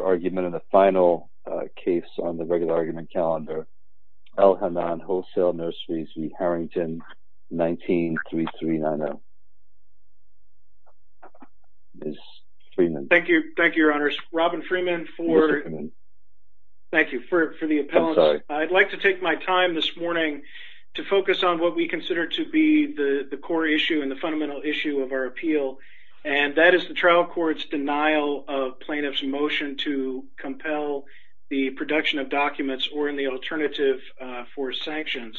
argument in the final case on the regular argument calendar Elhannon Wholesale Nurseries v Harrington 19-3390. Thank you. Thank you, Your Honors. Robin Freeman. Thank you for the appellant. I'd like to take my time this morning to focus on what we consider to be the the core issue and the fundamental issue of our appeal and that is the trial court's denial of compel the production of documents or in the alternative for sanctions.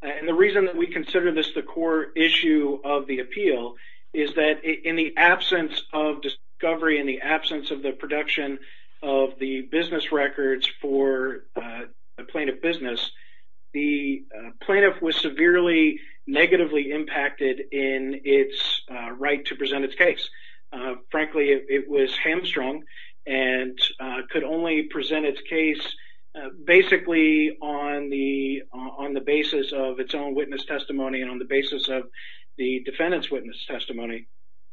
And the reason that we consider this the core issue of the appeal is that in the absence of discovery, in the absence of the production of the business records for a plaintiff business, the plaintiff was severely negatively impacted in its right to present its case. Frankly, it was hamstrung and could only present its case basically on the on the basis of its own witness testimony and on the basis of the defendant's witness testimony.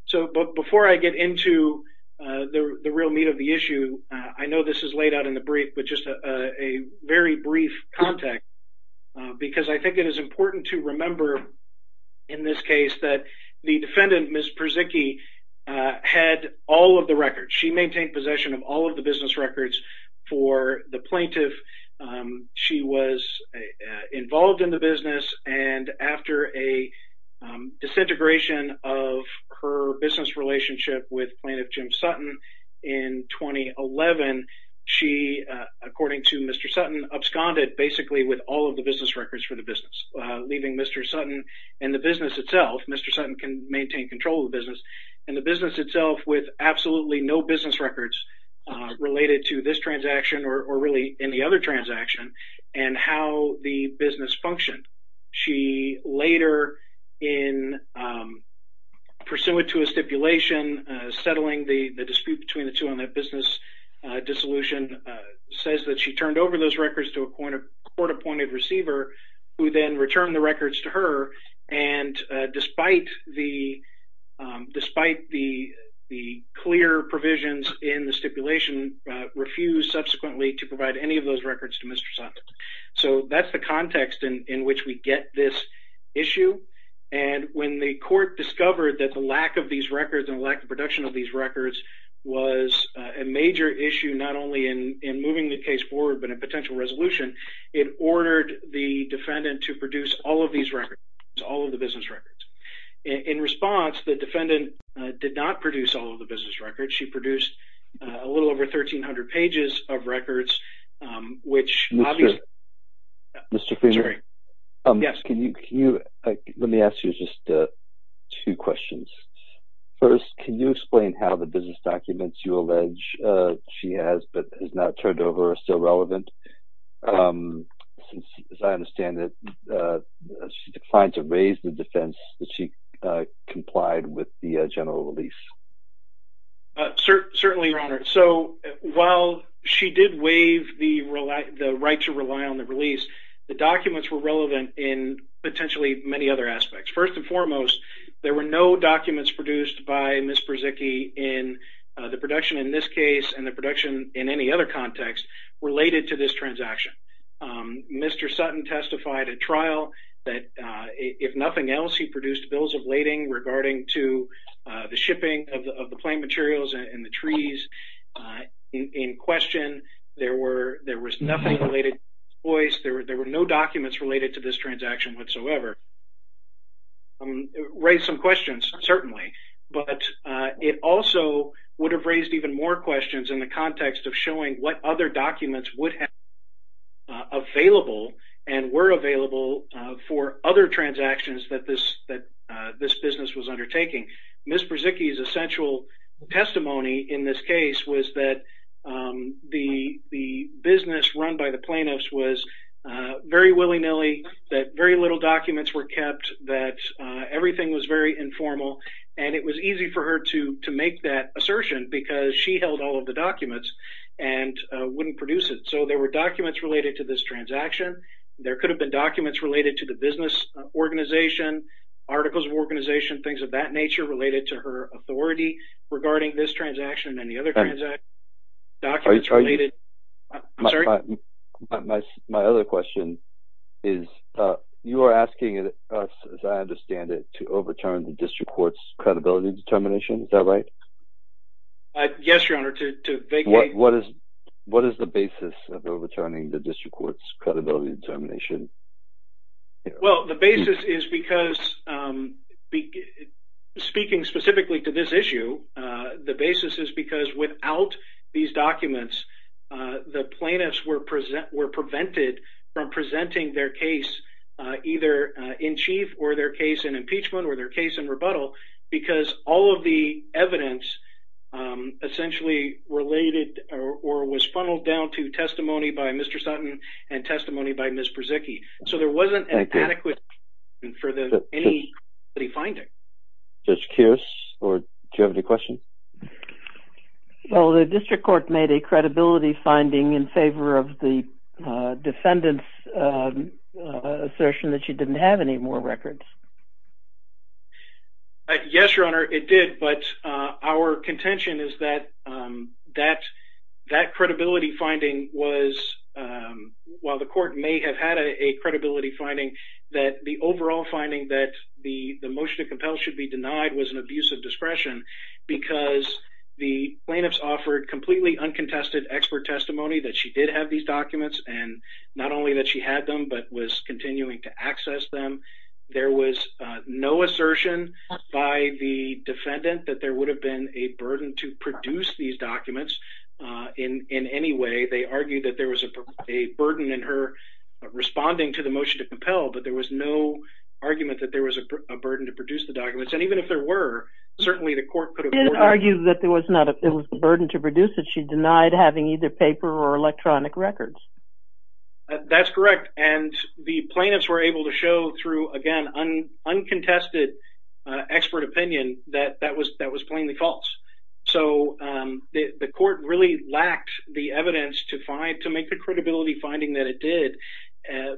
So before I get into the real meat of the issue, I know this is laid out in the brief, but just a very brief context because I think it is important to remember in this case that the defendant, Ms. Perzycki, had all of the records. She maintained possession of all of the business records for the plaintiff. She was involved in the business and after a disintegration of her business relationship with plaintiff Jim Sutton in 2011, she, according to Mr. Sutton, absconded basically with all of the business records for the business, leaving Mr. Sutton and the business itself, Mr. Sutton can maintain control of the business, and the business itself with absolutely no business records related to this transaction or really any other transaction and how the business functioned. She later, in pursuant to a stipulation, settling the dispute between the two on that business dissolution, says that she turned over those records to a court-appointed receiver who then returned the records to her and despite the clear provisions in the stipulation, refused subsequently to provide any of those records to Mr. Sutton. So that's the context in which we get this issue and when the court discovered that the lack of these records and lack of production of these records was a financial resolution, it ordered the defendant to produce all of these records, all of the business records. In response, the defendant did not produce all of the business records. She produced a little over 1,300 pages of records which... Mr. Freeman, let me ask you just two questions. First, can you explain how the business documents you allege she has but has not turned over are still as I understand it, she declined to raise the defense that she complied with the general release? Certainly, Your Honor. So while she did waive the right to rely on the release, the documents were relevant in potentially many other aspects. First and foremost, there were no documents produced by Ms. Brzezicki in the production in this case and the production in any other context related to this transaction. Mr. Sutton testified at trial that if nothing else, he produced bills of lading regarding to the shipping of the plain materials and the trees. In question, there was nothing related to this case. There were no documents related to this transaction whatsoever. It raised some questions, certainly, but it also would have raised even more questions in the context of showing what other documents would have been available and were available for other transactions that this business was undertaking. Ms. Brzezicki's essential testimony in this case was that the business run by the plaintiffs was very willy-nilly, that very little documents were kept, that everything was very informal, and it was easy for her to make that assertion because she held all of the documents and wouldn't produce it. So, there were documents related to this transaction. There could have been documents related to the business organization, articles of organization, things of that nature related to her authority regarding this transaction and any other documents related. My other question is, you are asking us, as I understand it, to overturn the District Court's credibility determination, is that right? Yes, Your Honor. What is the basis of overturning the District Court's credibility determination? Well, the basis is because, speaking specifically to this issue, the basis is because without these documents, the plaintiffs were prevented from presenting their case either in chief or their case in impeachment or their case in rebuttal because all of the evidence essentially related or was funneled down to testimony by Mr. Sutton and testimony by Ms. Brzezicki. So, there wasn't an adequate for the any finding. Judge Kios, do you have any question? Well, the District Court made a credibility finding in favor of the defendant's assertion that she didn't have any more records. Yes, Your Honor, it did, but our contention is that that credibility finding was, while the court may have had a credibility finding, that the overall finding that the motion to compel should be denied was an abuse of discretion because the plaintiffs offered completely uncontested expert testimony that she did have these documents and not only that she had them but was continuing to access them. There was no assertion by the defendant that there would have been a burden to produce these documents in any way. They argued that there was a burden in her responding to the motion to compel, but there was no argument that there was a burden to produce the documents and even if there were, certainly the court could have argued that there was not a burden to produce that she denied having either paper or electronic records. That's correct and the plaintiffs were able to show through, again, uncontested expert opinion that that was that was plainly false. So the court really lacked the evidence to find to make the credibility finding that it did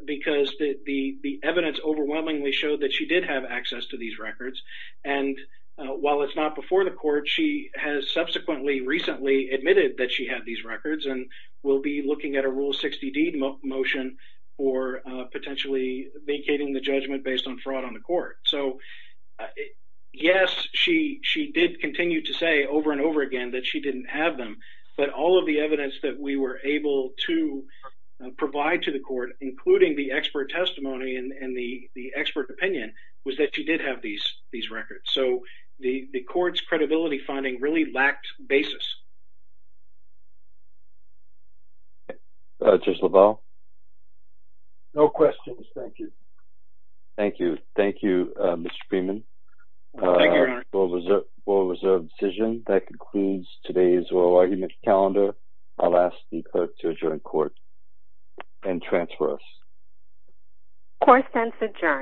because the evidence overwhelmingly showed that she did have access to these records and while it's not before the court, she has subsequently recently admitted that she had these records and will be looking at a Rule 60 D motion for potentially vacating the judgment based on fraud on the court. So yes, she did continue to say over and over again that she didn't have them, but all of the evidence that we were able to provide to the court, including the expert testimony and the the court's credibility finding really lacked basis. Judge LaValle? No questions, thank you. Thank you. Thank you, Mr. Freeman. World Reserve decision. That concludes today's oral argument calendar. I'll ask the clerk to adjourn court and transfer us. Court stands adjourned.